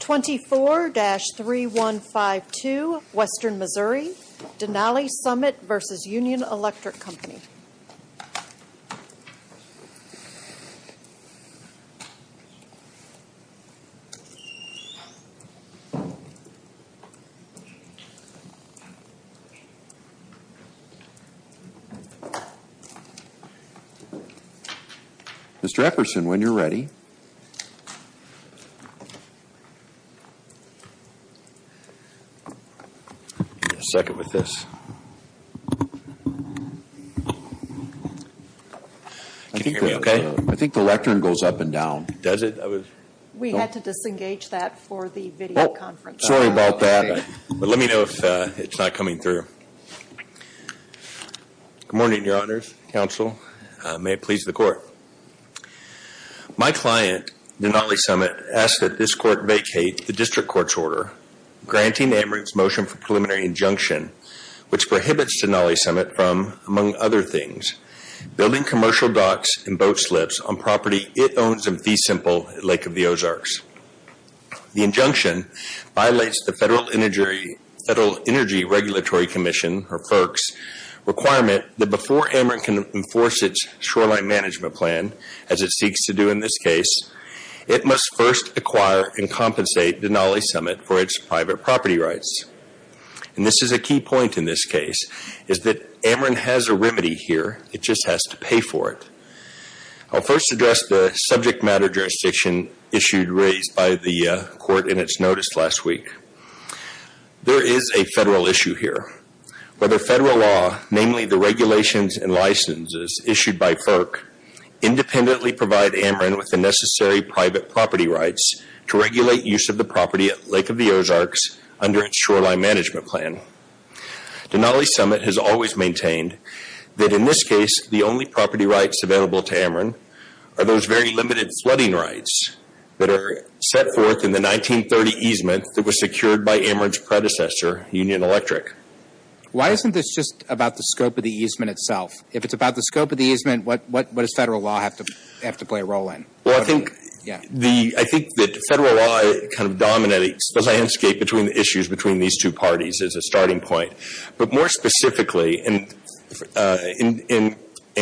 24-3152 Western Missouri, Denali Summit v. Union Electric Company Mr. Efferson, when you're ready. A second with this. Can you hear me okay? I think the lectern goes up and down. Does it? We had to disengage that for the video conference. Sorry about that. But let me know if it's not coming through. Good morning, your honors, counsel. May it please the court. My client, Denali Summit, asked that this court vacate the district court's order granting Ameren's motion for preliminary injunction, which prohibits Denali Summit from, among other things, building commercial docks and boat slips on property it owns in Fee Simple, Lake of the Ozarks. The injunction violates the Federal Energy Regulatory Commission, or FERC's, requirement that before Ameren can enforce its shoreline management plan, as it seeks to do in this case, it must first acquire and compensate Denali Summit for its private property rights. This is a key point in this case, is that Ameren has a remedy here. It just has to pay for it. I'll first address the subject matter jurisdiction issued by the court in its notice last week. There is a Federal issue here. Whether Federal law, namely the regulations and licenses issued by FERC, independently provide Ameren with the necessary private property rights to regulate use of the property at Lake of the Ozarks under its shoreline management plan. Denali Summit has always maintained that in this case, the only property rights available to Ameren are those very limited flooding rights that are set forth in the 1930 easement that was secured by Ameren's predecessor, Union Electric. Why isn't this just about the scope of the easement itself? If it's about the scope of the easement, what does Federal law have to play a role in? Well, I think that Federal law kind of dominates the landscape between the issues between these two parties as a starting point. But more specifically, in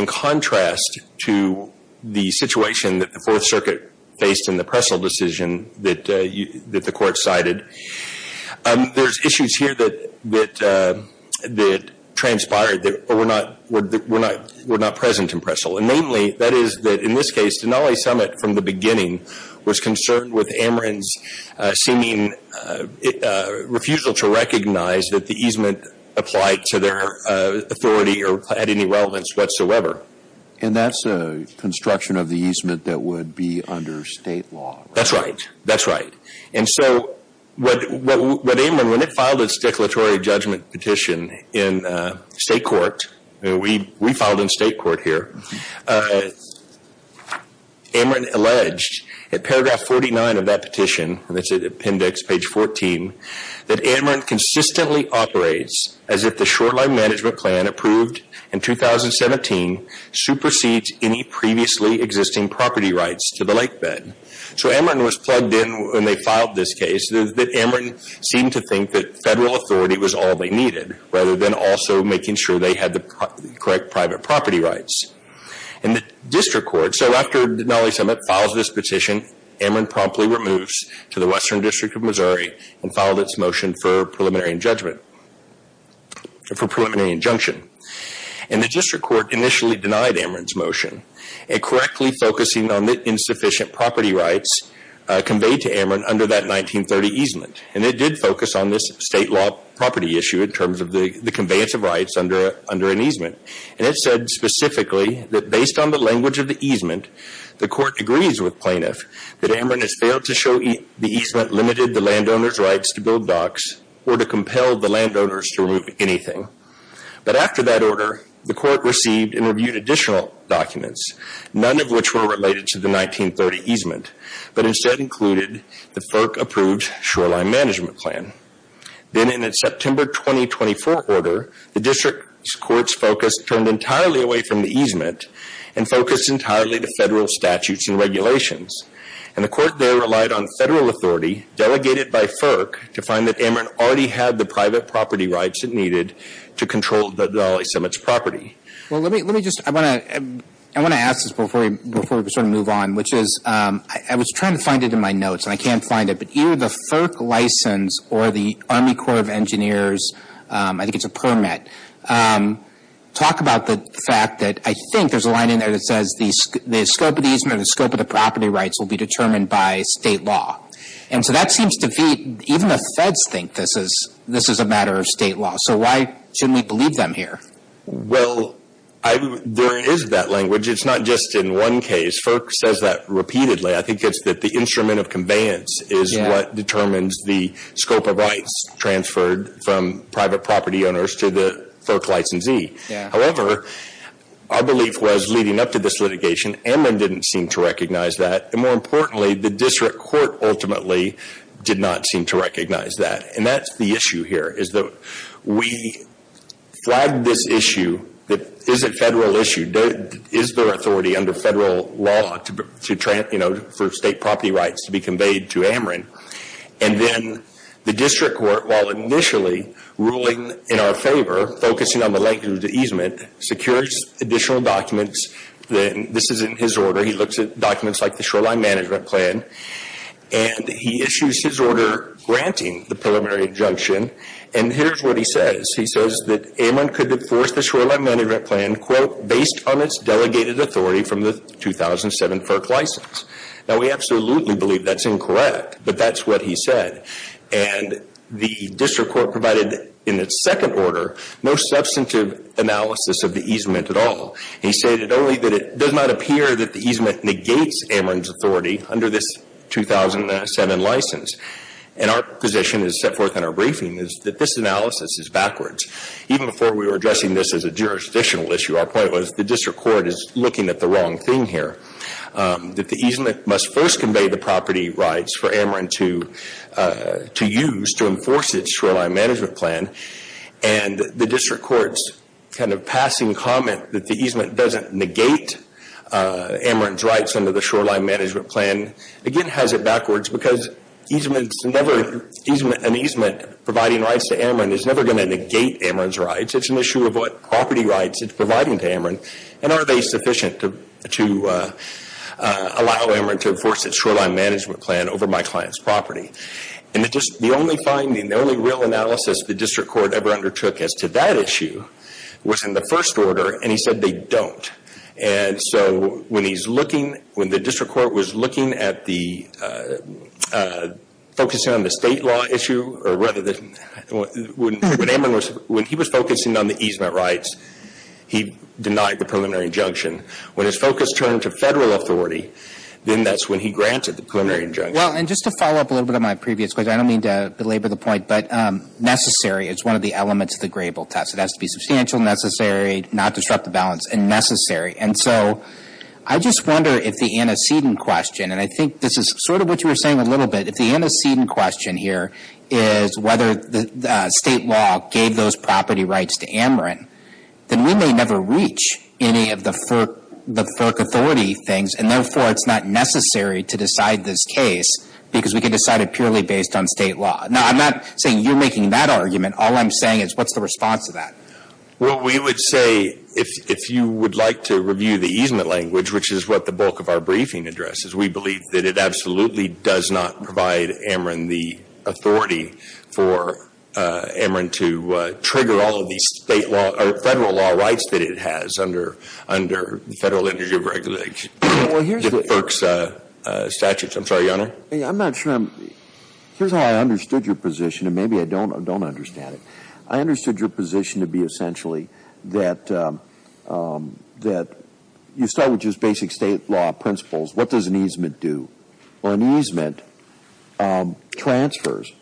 contrast to the situation that the Fourth Circuit faced in the Prestle decision that the court cited, there's issues here that transpired that were not present in Prestle. And namely, that is that in this case, Denali Summit from the beginning was concerned with Ameren's seeming refusal to recognize that the easement applied to their authority or had any relevance whatsoever. And that's a construction of the easement that would be under state law. That's right. That's right. And so what Ameren, when it filed its declaratory judgment petition in state court, we filed in state court here, Ameren alleged at paragraph 49 of that petition, that's at appendix page 14, that Ameren consistently operates as if the shoreline management plan approved in 2017 supersedes any previously existing property rights to the lake bed. So Ameren was plugged in when they filed this case that Ameren seemed to think that Federal authority was all they needed, rather than also making sure they had the correct private property rights. And the district court, so after Denali Summit files this petition, Ameren promptly removes to the Western District of Missouri and filed its motion for preliminary injunction. And the district court initially denied Ameren's motion and correctly focusing on the insufficient property rights conveyed to Ameren under that 1930 easement. And it did focus on this state law property issue in terms of the conveyance of rights under an easement. And it said specifically that based on the language of the easement, the court agrees with plaintiff that Ameren has failed to show the easement limited the landowner's rights to build docks or to compel the landowners to remove anything. But after that order, the court received and reviewed additional documents, none of which were related to the 1930 easement, but instead included the FERC approved shoreline management plan. Then in its September 2024 order, the district court's focus turned entirely away from the easement and focused entirely to Federal statutes and regulations. And the court there relied on Federal authority delegated by FERC to find that Ameren already had the private property rights it needed to control the LA Cemetery's property. Well, let me just, I want to ask this before we sort of move on, which is, I was trying to find it in my notes and I can't find it, but either the FERC license or the Army Corps of Engineers, I think it's a permit, talk about the fact that I think there's a line in there that says the scope of the easement, the scope of the property rights will be determined by state law. And so that seems to be, even the Feds think this is a matter of state law. So why shouldn't we believe them here? Well, there is that language. It's not just in one case. FERC says that repeatedly. I think it's that the instrument of conveyance is what determines the scope of rights transferred from private property owners to the FERC licensee. However, our belief was leading up to this litigation, Ameren didn't seem to recognize that. And more importantly, the district court ultimately did not seem to recognize that. And that's the issue here, is that we flagged this issue that is a federal issue. Is there authority under federal law to, you know, for state property rights to be conveyed to Ameren? And then the district court, while initially ruling in our favor, focusing on the length of the easement, secures additional documents. This is in his order. He looks at documents like the shoreline management plan, and he issues his order granting the preliminary injunction. And here's what he says. He says that Ameren could enforce the shoreline management plan, quote, based on its delegated authority from the 2007 FERC license. Now, we absolutely believe that's incorrect, but that's what he said. And the district court provided, in its second order, no substantive analysis of the easement at all. He stated only that it does not appear that the easement negates Ameren's authority under this 2007 license. And our position, as set forth in our briefing, is that this analysis is backwards. Even before we were addressing this as a jurisdictional issue, our point was the district court is looking at the wrong thing here. That the easement must first convey the property rights for Ameren to use to enforce its shoreline management plan. And the district court's passing comment that the easement doesn't negate Ameren's rights under the shoreline management plan, again, has it backwards because an easement providing rights to Ameren is never going to negate Ameren's rights. It's an issue of what property rights it's providing to Ameren. And are they sufficient to allow Ameren to enforce its shoreline management plan over my client's property? And the only finding, the only real analysis the district court ever undertook as to that issue was in the first order, and he said they don't. And so when he's looking, when the district court was looking at the, focusing on the state law issue, or rather the, when Ameren was, when he was focusing on the easement rights, he denied the preliminary injunction. When his focus turned to Federal authority, then that's when he granted the preliminary injunction. And just to follow up a little bit on my previous question, I don't mean to belabor the point, but necessary is one of the elements of the Grable test. It has to be substantial, necessary, not disrupt the balance, and necessary. And so I just wonder if the antecedent question, and I think this is sort of what you were saying a little bit, if the antecedent question here is whether the state law gave those property rights to Ameren, then we may never reach any of the FERC authority things, and therefore it's not necessary to decide this case, because we could decide it purely based on state law. Now, I'm not saying you're making that argument. All I'm saying is what's the response to that? Well, we would say if you would like to review the easement language, which is what the bulk of our briefing addresses, we believe that it absolutely does not provide Ameren the authority for Ameren to trigger all of these state law, or Federal law rights that it has under the Federal energy of regulation. The FERC's statutes. I'm sorry, Your Honor? I'm not sure. Here's how I understood your position, and maybe I don't understand it. I understood your position to be essentially that you start with just basic state law principles. What does an easement do? Well, an easement transfers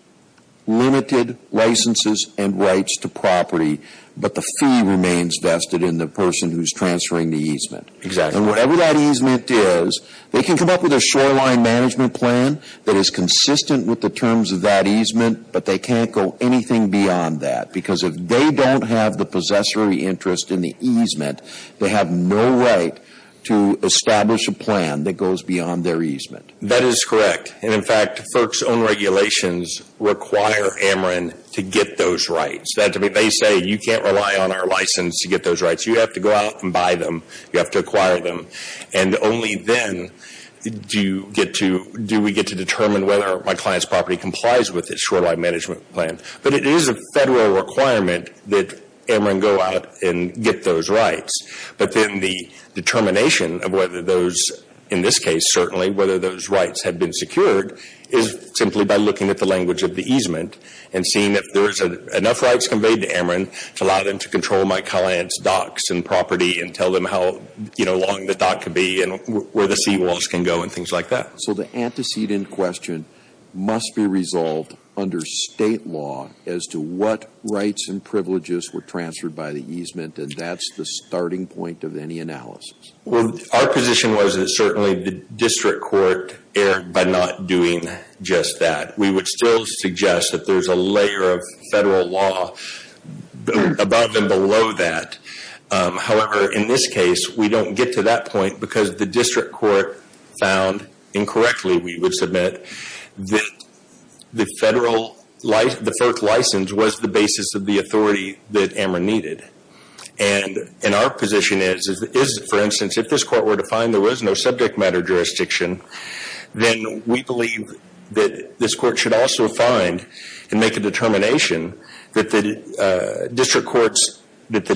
limited licenses and rights to property, but the fee remains vested in the person who's transferring the easement. Exactly. Whatever that easement is, they can come up with a shoreline management plan that is consistent with the terms of that easement, but they can't go anything beyond that, because if they don't have the possessory interest in the easement, they have no right to establish a plan that goes beyond their easement. That is correct. In fact, FERC's own regulations require Ameren to get those rights. They say you can't rely on our license to get those rights. You have to go out and buy them. You have to acquire them, and only then do we get to determine whether my client's property complies with its shoreline management plan. But it is a federal requirement that Ameren go out and get those rights. But then the determination of whether those, in this case certainly, whether those rights have been secured is simply by looking at the language of the easement and seeing if there is enough rights conveyed to Ameren to allow them to control my client's docks and property and tell them how long the dock could be and where the seawalls can go and things like that. So the antecedent question must be resolved under state law as to what rights and privileges were transferred by the easement, and that's the starting point of any analysis? Well, our position was that certainly the district court erred by not doing just that. We would still suggest that there is a layer of federal law above and below that However, in this case, we don't get to that point because the district court found incorrectly, we would submit, that the first license was the basis of the authority that Ameren needed. And our position is, for instance, if this court were to find there was no subject matter jurisdiction, then we believe that this court should also find and make a determination that the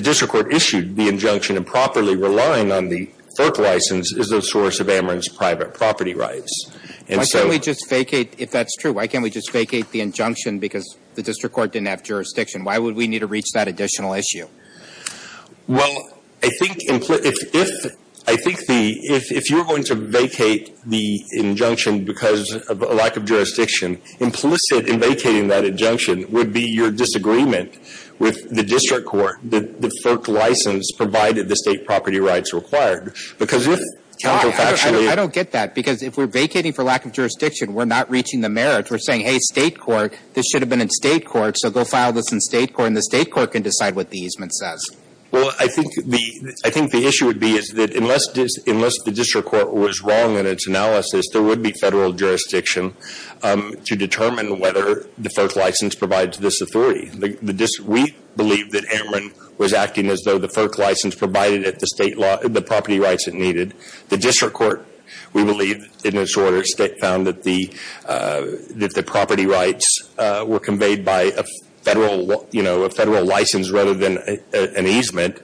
district court issued the injunction and properly relying on the third license is the source of Ameren's private property rights. Why can't we just vacate, if that's true, why can't we just vacate the injunction because the district court didn't have jurisdiction? Why would we need to reach that additional issue? Well, I think if you're going to vacate the injunction because of a lack of jurisdiction, implicit in vacating that injunction would be your disagreement with the district court that the third license provided the state property rights required. Because if counterfactually... I don't get that because if we're vacating for lack of jurisdiction, we're not reaching the merits. We're saying, hey, state court, this should have been in state court, so go file this in state court and the state court can decide what the easement says. Well, I think the issue would be is that unless the district court was wrong in its analysis, there would be federal jurisdiction to determine whether the third license provides this authority. We believe that Ameren was acting as though the third license provided it the property rights it needed. The district court, we believe, in its order found that the property rights were conveyed by a federal license rather than an easement.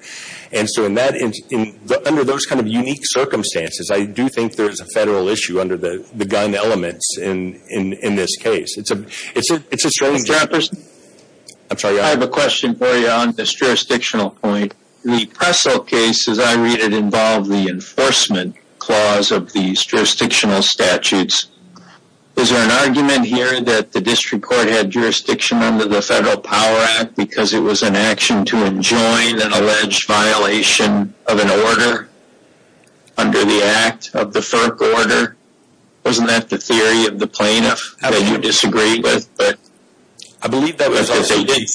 So under those kind of unique circumstances, I do think there is a federal issue under the gun elements in this case. I have a question for you on this jurisdictional point. The Pressel case, as I read it, involved the enforcement clause of these jurisdictional statutes. Is there an argument here that the district court had jurisdiction under the Federal Power Act because it was an action to enjoin an alleged violation of an order under the act of the FERC order? Wasn't that the theory of the plaintiff that you disagreed with? I believe that was because they did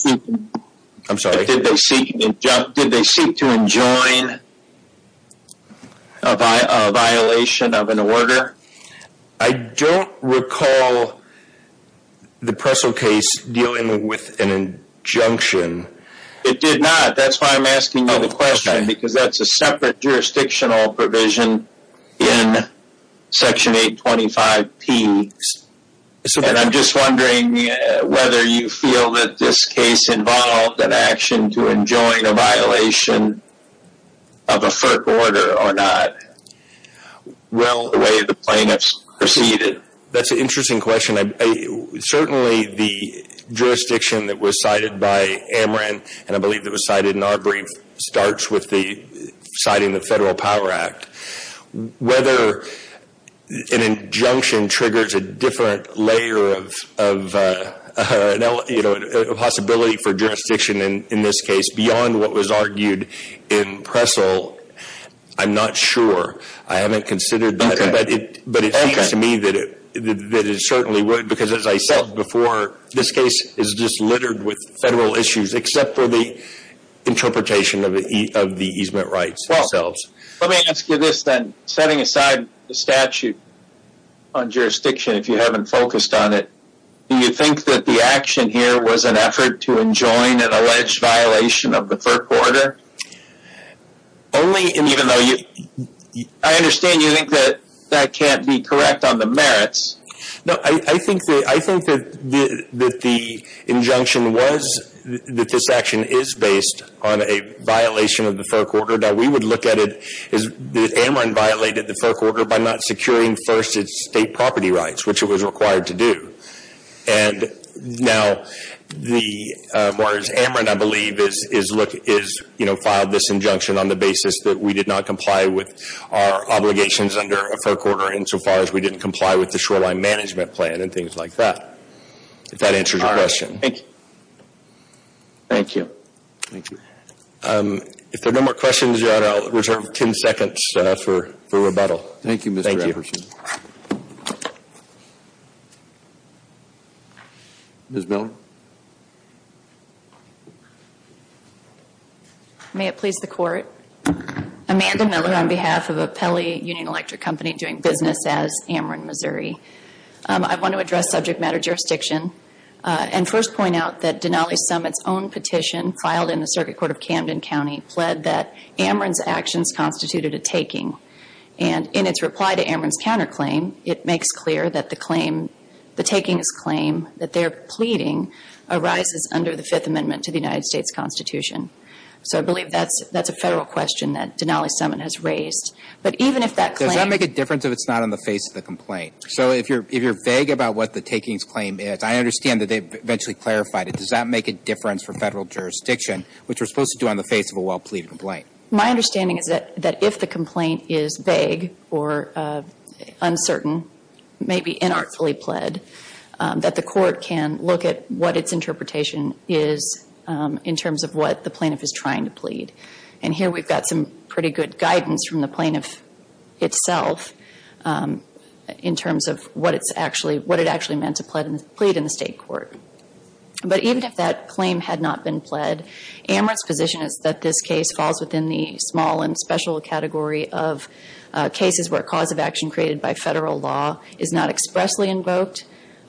seek to enjoin a violation of an order. I don't recall the Pressel case dealing with an injunction. It did not. That's why I'm asking you the question because that's a separate jurisdictional provision in Section 825P. I'm just wondering whether you feel that this case involved an action to enjoin a violation of a FERC order or not. The way the plaintiffs proceeded. That's an interesting question. Certainly, the jurisdiction that was cited by Amran, and I believe it was cited in our brief, starts with citing the Federal Power Act. Whether an injunction triggers a different layer of possibility for jurisdiction in this beyond what was argued in Pressel, I'm not sure. I haven't considered that, but it seems to me that it certainly would because as I said before, this case is just littered with federal issues except for the interpretation of the easement rights themselves. Let me ask you this then. Setting aside the statute on jurisdiction, if you haven't focused on it, do you think the action here was an effort to enjoin an alleged violation of the FERC order? I understand you think that that can't be correct on the merits. I think that the injunction was that this action is based on a violation of the FERC order. We would look at it as Amran violated the FERC order by not securing first its state property rights, which it was required to do. Now, Amran, I believe, filed this injunction on the basis that we did not comply with our obligations under a FERC order insofar as we didn't comply with the shoreline management plan and things like that, if that answers your question. Thank you. Thank you. Thank you. If there are no more questions, Your Honor, I'll reserve 10 seconds for rebuttal. Thank you, Mr. Everson. Ms. Miller. May it please the Court. Amanda Miller on behalf of a Pelley Union Electric Company doing business as Amran, I want to address subject matter jurisdiction and first point out that Denali Summit's own petition filed in the circuit court of Camden County pled that Amran's actions constituted a taking. And in its reply to Amran's counterclaim, it makes clear that the claim, the takings claim that they're pleading arises under the Fifth Amendment to the United States Constitution. So I believe that's a Federal question that Denali Summit has raised. But even if that claim... Does that make a difference if it's not on the face of the complaint? So if you're vague about what the takings claim is, I understand that they've eventually clarified it. Does that make a difference for Federal jurisdiction, which we're supposed to do on the face of a well-pleaded complaint? My understanding is that if the complaint is vague or uncertain, maybe inartfully pled, that the Court can look at what its interpretation is in terms of what the plaintiff is trying to plead. And here we've got some pretty good guidance from the plaintiff itself in terms of what it's actually... What it actually meant to plead in the State Court. But even if that claim had not been pled, Amran's position is that this case falls within the small and special category of cases where cause of action created by Federal law is not expressly invoked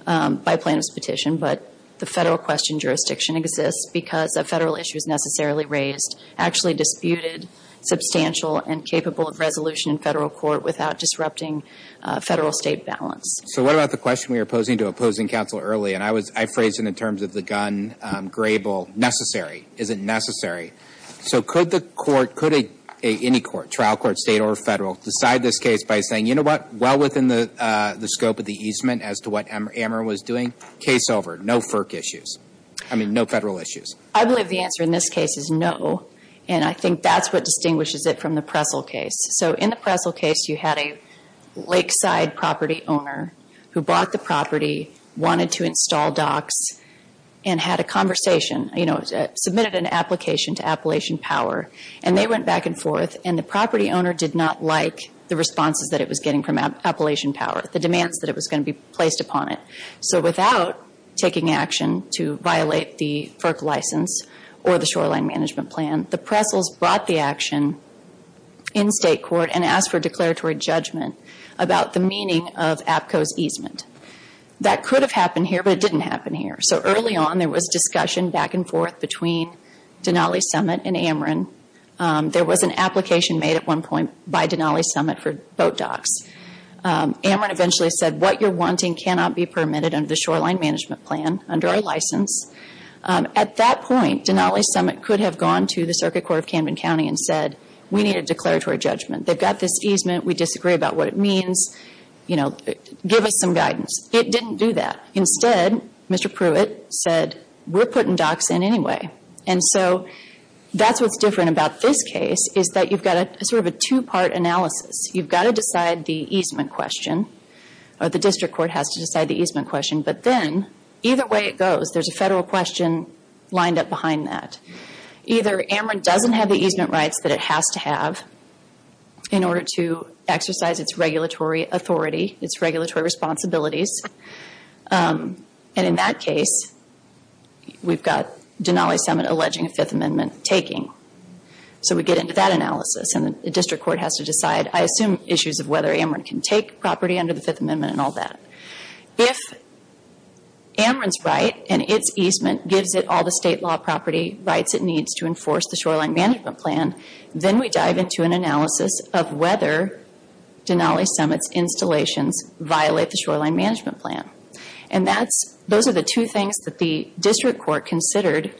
by plaintiff's petition. But the Federal question jurisdiction exists because a Federal issue is necessarily raised, actually disputed, substantial, and capable of resolution in Federal court without disrupting Federal-State balance. So what about the question we were posing to opposing counsel early? And I phrased it in terms of the gun, grable, necessary. Is it necessary? So could the court, could any court, trial court, State or Federal, decide this case by saying, you know what, well within the scope of the easement as to what Amran was doing. Case over. No FERC issues. I mean, no Federal issues. I believe the answer in this case is no. And I think that's what distinguishes it from the Prestle case. So in the Prestle case, you had a lakeside property owner who bought the property, wanted to install docks, and had a conversation. You know, submitted an application to Appalachian Power. And they went back and forth. And the property owner did not like the responses that it was getting from Appalachian Power, the demands that it was going to be placed upon it. So without taking action to violate the FERC license or the shoreline management plan, the Prestles brought the action in State court and asked for declaratory judgment about the meaning of APCO's easement. That could have happened here, but it didn't happen here. So early on, there was discussion back and forth between Denali Summit and Amran. There was an application made at one point by Denali Summit for boat docks. Amran eventually said, what you're wanting cannot be permitted under the shoreline management plan, under our license. At that point, Denali Summit could have gone to the Circuit Court of Camden County and said, we need a declaratory judgment. They've got this easement. We disagree about what it means. You know, give us some guidance. It didn't do that. Instead, Mr. Pruitt said, we're putting docks in anyway. And so that's what's different about this case, is that you've got sort of a two-part analysis. You've got to decide the easement question, or the district court has to decide the easement question. But then, either way it goes, there's a federal question lined up behind that. Either Amran doesn't have the easement rights that it has to have in order to exercise its regulatory authority, its regulatory responsibilities. And in that case, we've got Denali Summit alleging a Fifth Amendment taking. So we get into that analysis, and the district court has to decide, I assume, issues of whether Amran can take property under the Fifth Amendment and all that. If Amran's right and its easement gives it all the state law property rights it needs to enforce the shoreline management plan, then we dive into an analysis of whether Denali Summit's installations violate the shoreline management plan. And those are the two things that the district court considered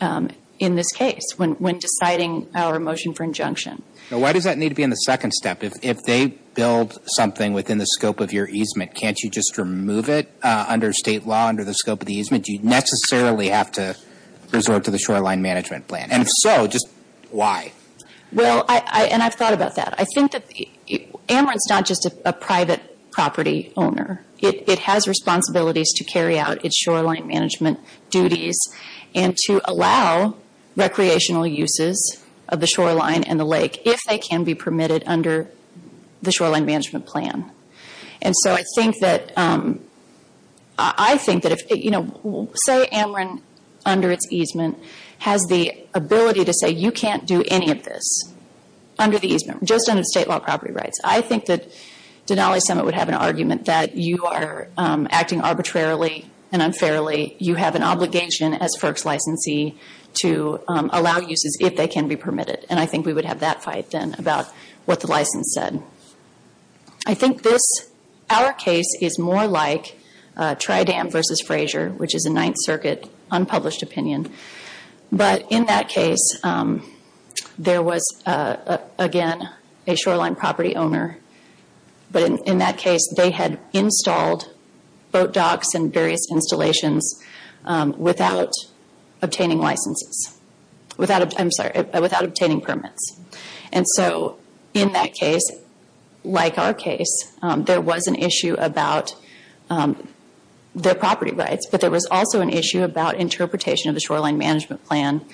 in this case when deciding our motion for injunction. Now, why does that need to be in the second step? If they build something within the scope of your easement, can't you just remove it under state law, under the scope of the easement? Do you necessarily have to resort to the shoreline management plan? And if so, just why? Well, and I've thought about that. I think that Amran's not just a private property owner. It has responsibilities to carry out its shoreline management duties and to allow recreational uses of the shoreline and the lake if they can be permitted under the shoreline management plan. And so I think that if, you know, say Amran, under its easement, has the ability to say, you can't do any of this under the easement, just under the state law property rights. I think that Denali Summit would have an argument that you are acting arbitrarily and unfairly. You have an obligation as FERC's licensee to allow uses if they can be permitted. And I think we would have that fight then about what the license said. I think this, our case is more like Tridam versus Frazier, which is a Ninth Circuit unpublished opinion. But in that case, there was, again, a shoreline property owner. But in that case, they had installed boat docks and various installations without obtaining licenses. Without, I'm sorry, without obtaining permits. And so in that case, like our case, there was an issue about their property rights. But there was also an issue about interpretation of the shoreline management plan.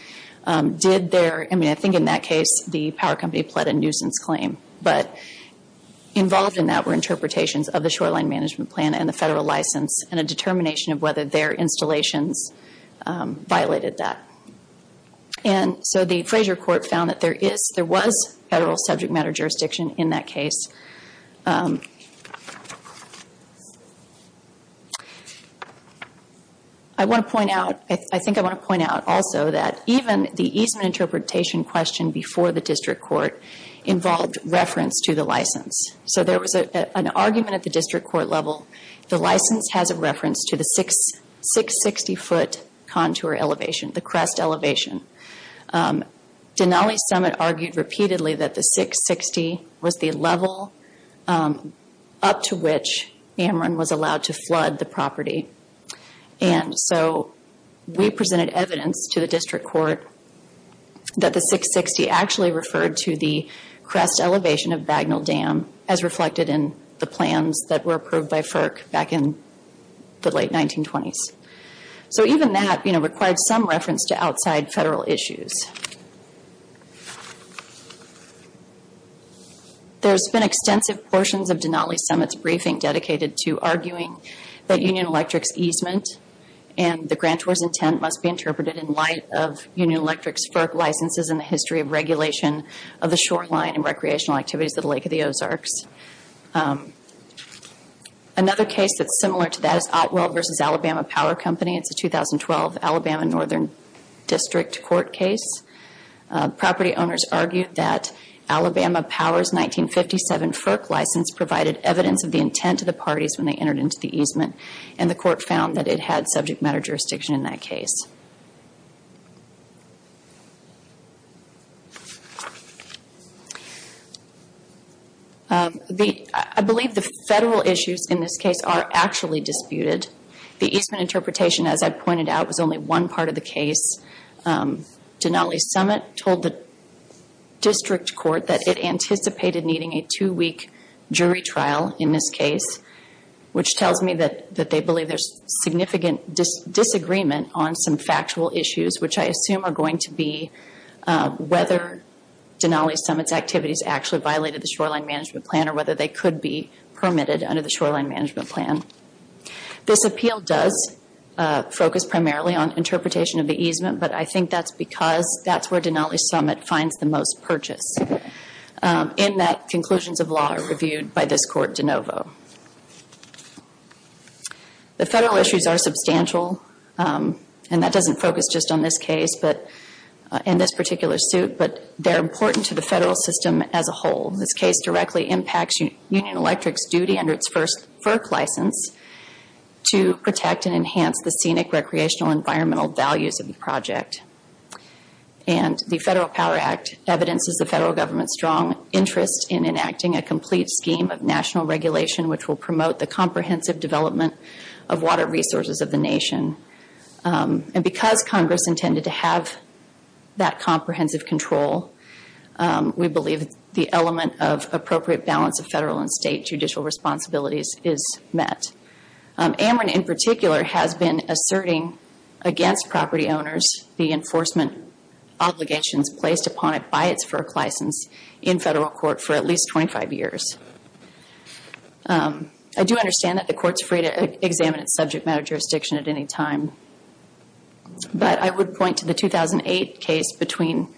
Did their, I mean, I think in that case, the power company pled a nuisance claim. But involved in that were interpretations of the shoreline management plan and the federal license and a determination of whether their installations violated that. And so the Frazier court found that there is, there was federal subject matter jurisdiction in that case. I want to point out, I think I want to point out also that even the easement interpretation question before the district court involved reference to the license. So there was an argument at the district court level. The license has a reference to the 660-foot contour elevation, the crest elevation. Denali Summit argued repeatedly that the 660 was the level up to which Amron was allowed to flood the property. And so we presented evidence to the district court that the 660 actually referred to the crest elevation of Bagnell Dam as reflected in the plans that were approved by FERC back in the late 1920s. So even that, you know, required some reference to outside federal issues. There's been extensive portions of Denali Summit's briefing dedicated to arguing that Union Electric's easement and the grantor's intent must be interpreted in light of Union Electric's FERC licenses and the history of regulation of the shoreline and recreational activities at the Lake of the Ozarks. Another case that's similar to that is Otwell v. Alabama Power Company. It's a 2012 Alabama Northern District Court case. Property owners argued that Alabama Power's 1957 FERC license provided evidence of the parties when they entered into the easement. And the court found that it had subject matter jurisdiction in that case. I believe the federal issues in this case are actually disputed. The easement interpretation, as I pointed out, was only one part of the case. Denali Summit told the district court that it anticipated needing a two-week jury trial in this case, which tells me that they believe there's significant disagreement on some factual issues, which I assume are going to be whether Denali Summit's activities actually violated the shoreline management plan or whether they could be permitted under the shoreline management plan. This appeal does focus primarily on interpretation of the easement, but I think that's because that's where Denali Summit finds the most purchase, in that conclusions of law are reviewed by this court de novo. The federal issues are substantial, and that doesn't focus just on this case in this particular suit, but they're important to the federal system as a whole. This case directly impacts Union Electric's duty under its first FERC license to protect and enhance the scenic, recreational, environmental values of the project. And the Federal Power Act evidences the federal government's strong interest in enacting a complete scheme of national regulation, which will promote the comprehensive development of water resources of the nation. And because Congress intended to have that comprehensive control, we believe the element of appropriate balance of federal and state judicial responsibilities is met. Ameren, in particular, has been asserting against property owners the enforcement obligations placed upon it by its FERC license in federal court for at least 25 years. I do understand that the court's free to examine its subject matter jurisdiction at any time, but I would point to the 2008 case between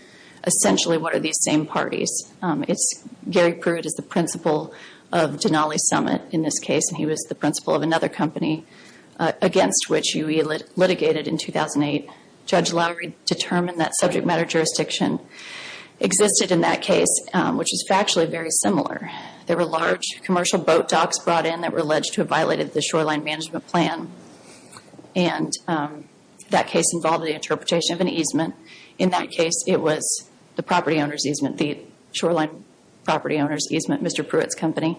essentially one of these same parties. Gary Prude is the principal of Denali Summit in this case, and he was the principal of another company against which UE litigated in 2008. Judge Lowery determined that subject matter jurisdiction existed in that case, which is factually very similar. There were large commercial boat docks brought in that were alleged to have violated the shoreline management plan, and that case involved the interpretation of an easement. In that case, it was the property owner's easement, the shoreline property owner's easement, Mr. Pruitt's company.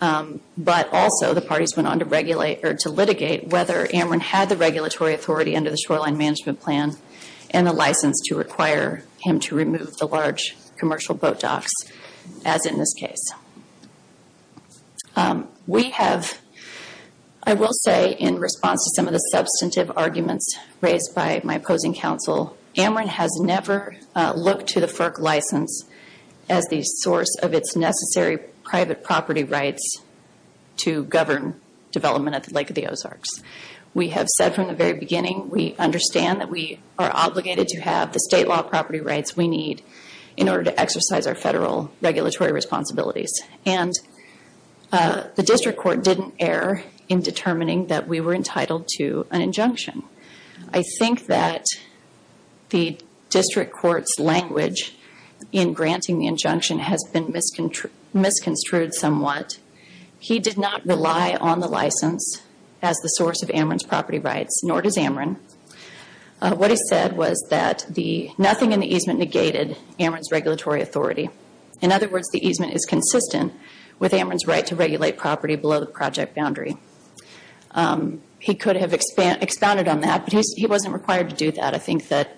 But also, the parties went on to regulate or to litigate whether Ameren had the regulatory authority under the shoreline management plan and the license to require him to remove the large commercial boat docks, as in this case. We have, I will say in response to some of the substantive arguments raised by my opposing counsel, Ameren has never looked to the FERC license as the source of its necessary private property rights to govern development at the Lake of the Ozarks. We have said from the very beginning we understand that we are obligated to have the state law property rights we need in order to exercise our federal regulatory responsibilities. The district court didn't err in determining that we were entitled to an injunction. I think that the district court's language in granting the injunction has been misconstrued somewhat. He did not rely on the license as the source of Ameren's property rights, nor does Ameren. What he said was that nothing in the easement negated Ameren's regulatory authority. In other words, the easement is consistent with Ameren's right to regulate property below the project boundary. He could have expounded on that, but he wasn't required to do that. I think that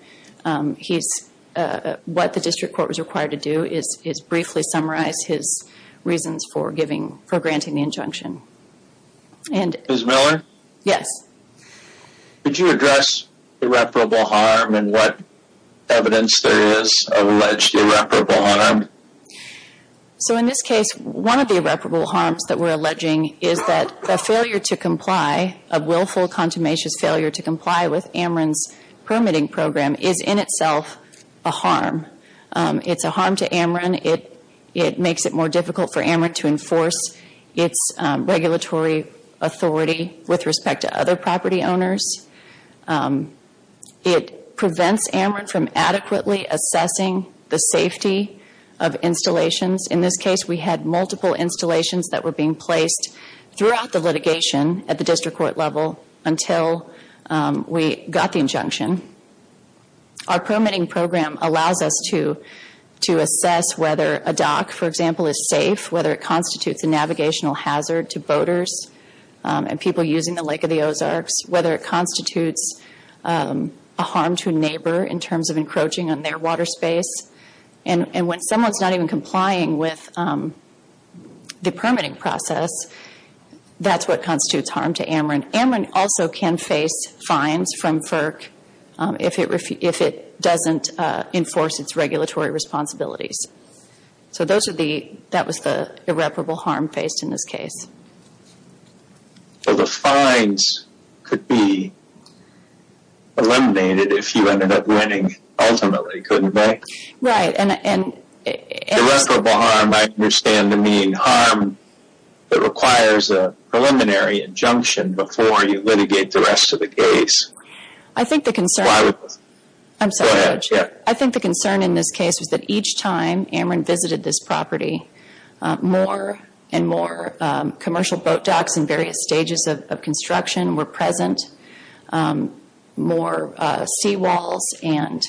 what the district court was required to do is briefly summarize his reasons for granting the injunction. Ms. Miller? Yes. Could you address irreparable harm and what evidence there is of alleged irreparable harm? In this case, one of the irreparable harms that we're alleging is that a failure to comply, a willful, contumacious failure to comply with Ameren's permitting program is in itself a harm. It's a harm to Ameren. It makes it more difficult for Ameren to enforce its regulatory authority with respect to other property owners. It prevents Ameren from adequately assessing the safety of installations. In this case, we had multiple installations that were being placed throughout the litigation at the district court level until we got the injunction. Our permitting program allows us to assess whether a dock, for example, is safe, whether it constitutes a navigational hazard to boaters and people using the Lake of the Ozarks, whether it constitutes a harm to a neighbor in terms of encroaching on their water space. And when someone's not even complying with the permitting process, that's what constitutes harm to Ameren. Ameren also can face fines from FERC if it doesn't enforce its regulatory responsibilities. So that was the irreparable harm faced in this case. So the fines could be eliminated if you ended up winning, ultimately, couldn't they? Right. Irreparable harm, I understand to mean harm that requires a preliminary injunction before you litigate the rest of the case. I think the concern in this case was that each time Ameren visited this property, more and more commercial boat docks in various stages of construction were present. More seawalls and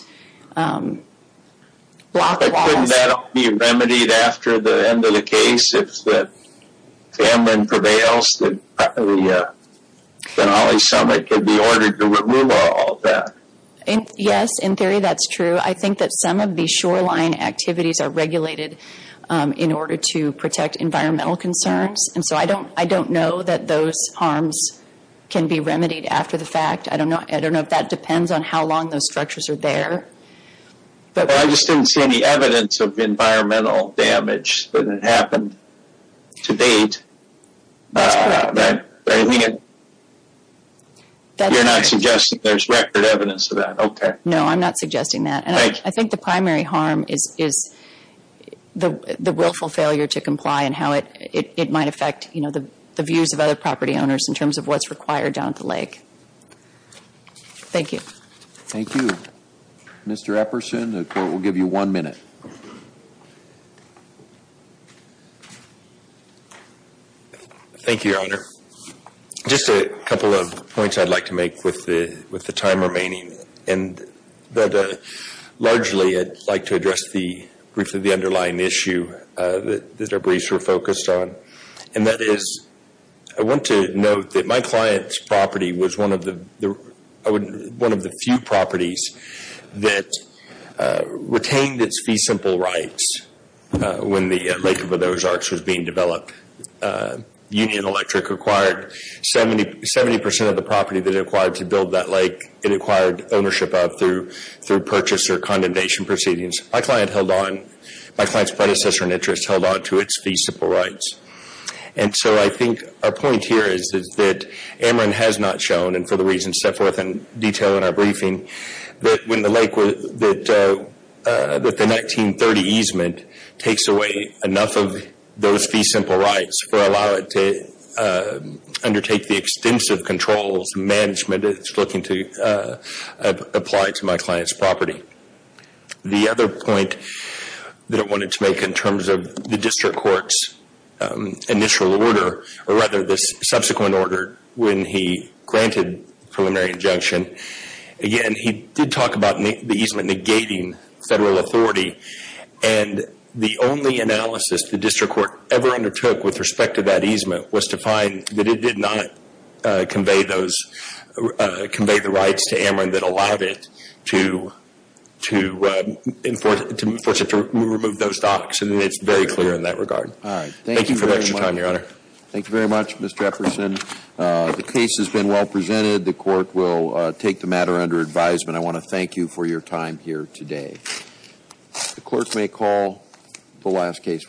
block walls. Couldn't that be remedied after the end of the case if Ameren prevails? The Denali Summit could be ordered to remove all of that. Yes, in theory that's true. I think that some of the shoreline activities are regulated in order to protect environmental concerns. I don't know that those harms can be remedied after the fact. I don't know if that depends on how long those structures are there. I just didn't see any evidence of environmental damage that happened to date. You're not suggesting there's record evidence of that, okay. No, I'm not suggesting that. I think the primary harm is the willful failure to comply and how it might affect the views of other property owners in terms of what's required down at the lake. Thank you. Thank you. Mr. Epperson, the Court will give you one minute. Thank you, Your Honor. Just a couple of points I'd like to make with the time remaining. Largely, I'd like to address briefly the underlying issue that our briefs were focused on. And that is, I want to note that my client's property was one of the few properties that retained its fee simple rights when the lake of those arcs was being developed. Union Electric acquired 70 percent of the property that it acquired to build that lake it acquired ownership of through purchase or condemnation proceedings. My client's predecessor in interest held on to its fee simple rights. And so I think our point here is that Ameren has not shown, and for the reasons set forth in detail in our briefing, that the 1930 easement takes away enough of those fee simple rights or allow it to undertake the extensive controls and management it's looking to apply to my client's property. The other point that I wanted to make in terms of the district court's initial order, or rather the subsequent order when he granted preliminary injunction. Again, he did talk about the easement negating federal authority. And the only analysis the district court ever undertook with respect to that easement was to find that it did not convey the rights to Ameren that allowed it to enforce it to remove those docks. And it's very clear in that regard. All right. Thank you for your time, Your Honor. Thank you very much, Mr. Jefferson. The case has been well presented. The court will take the matter under advisement. I want to thank you for your time here today. The clerk may call the last case.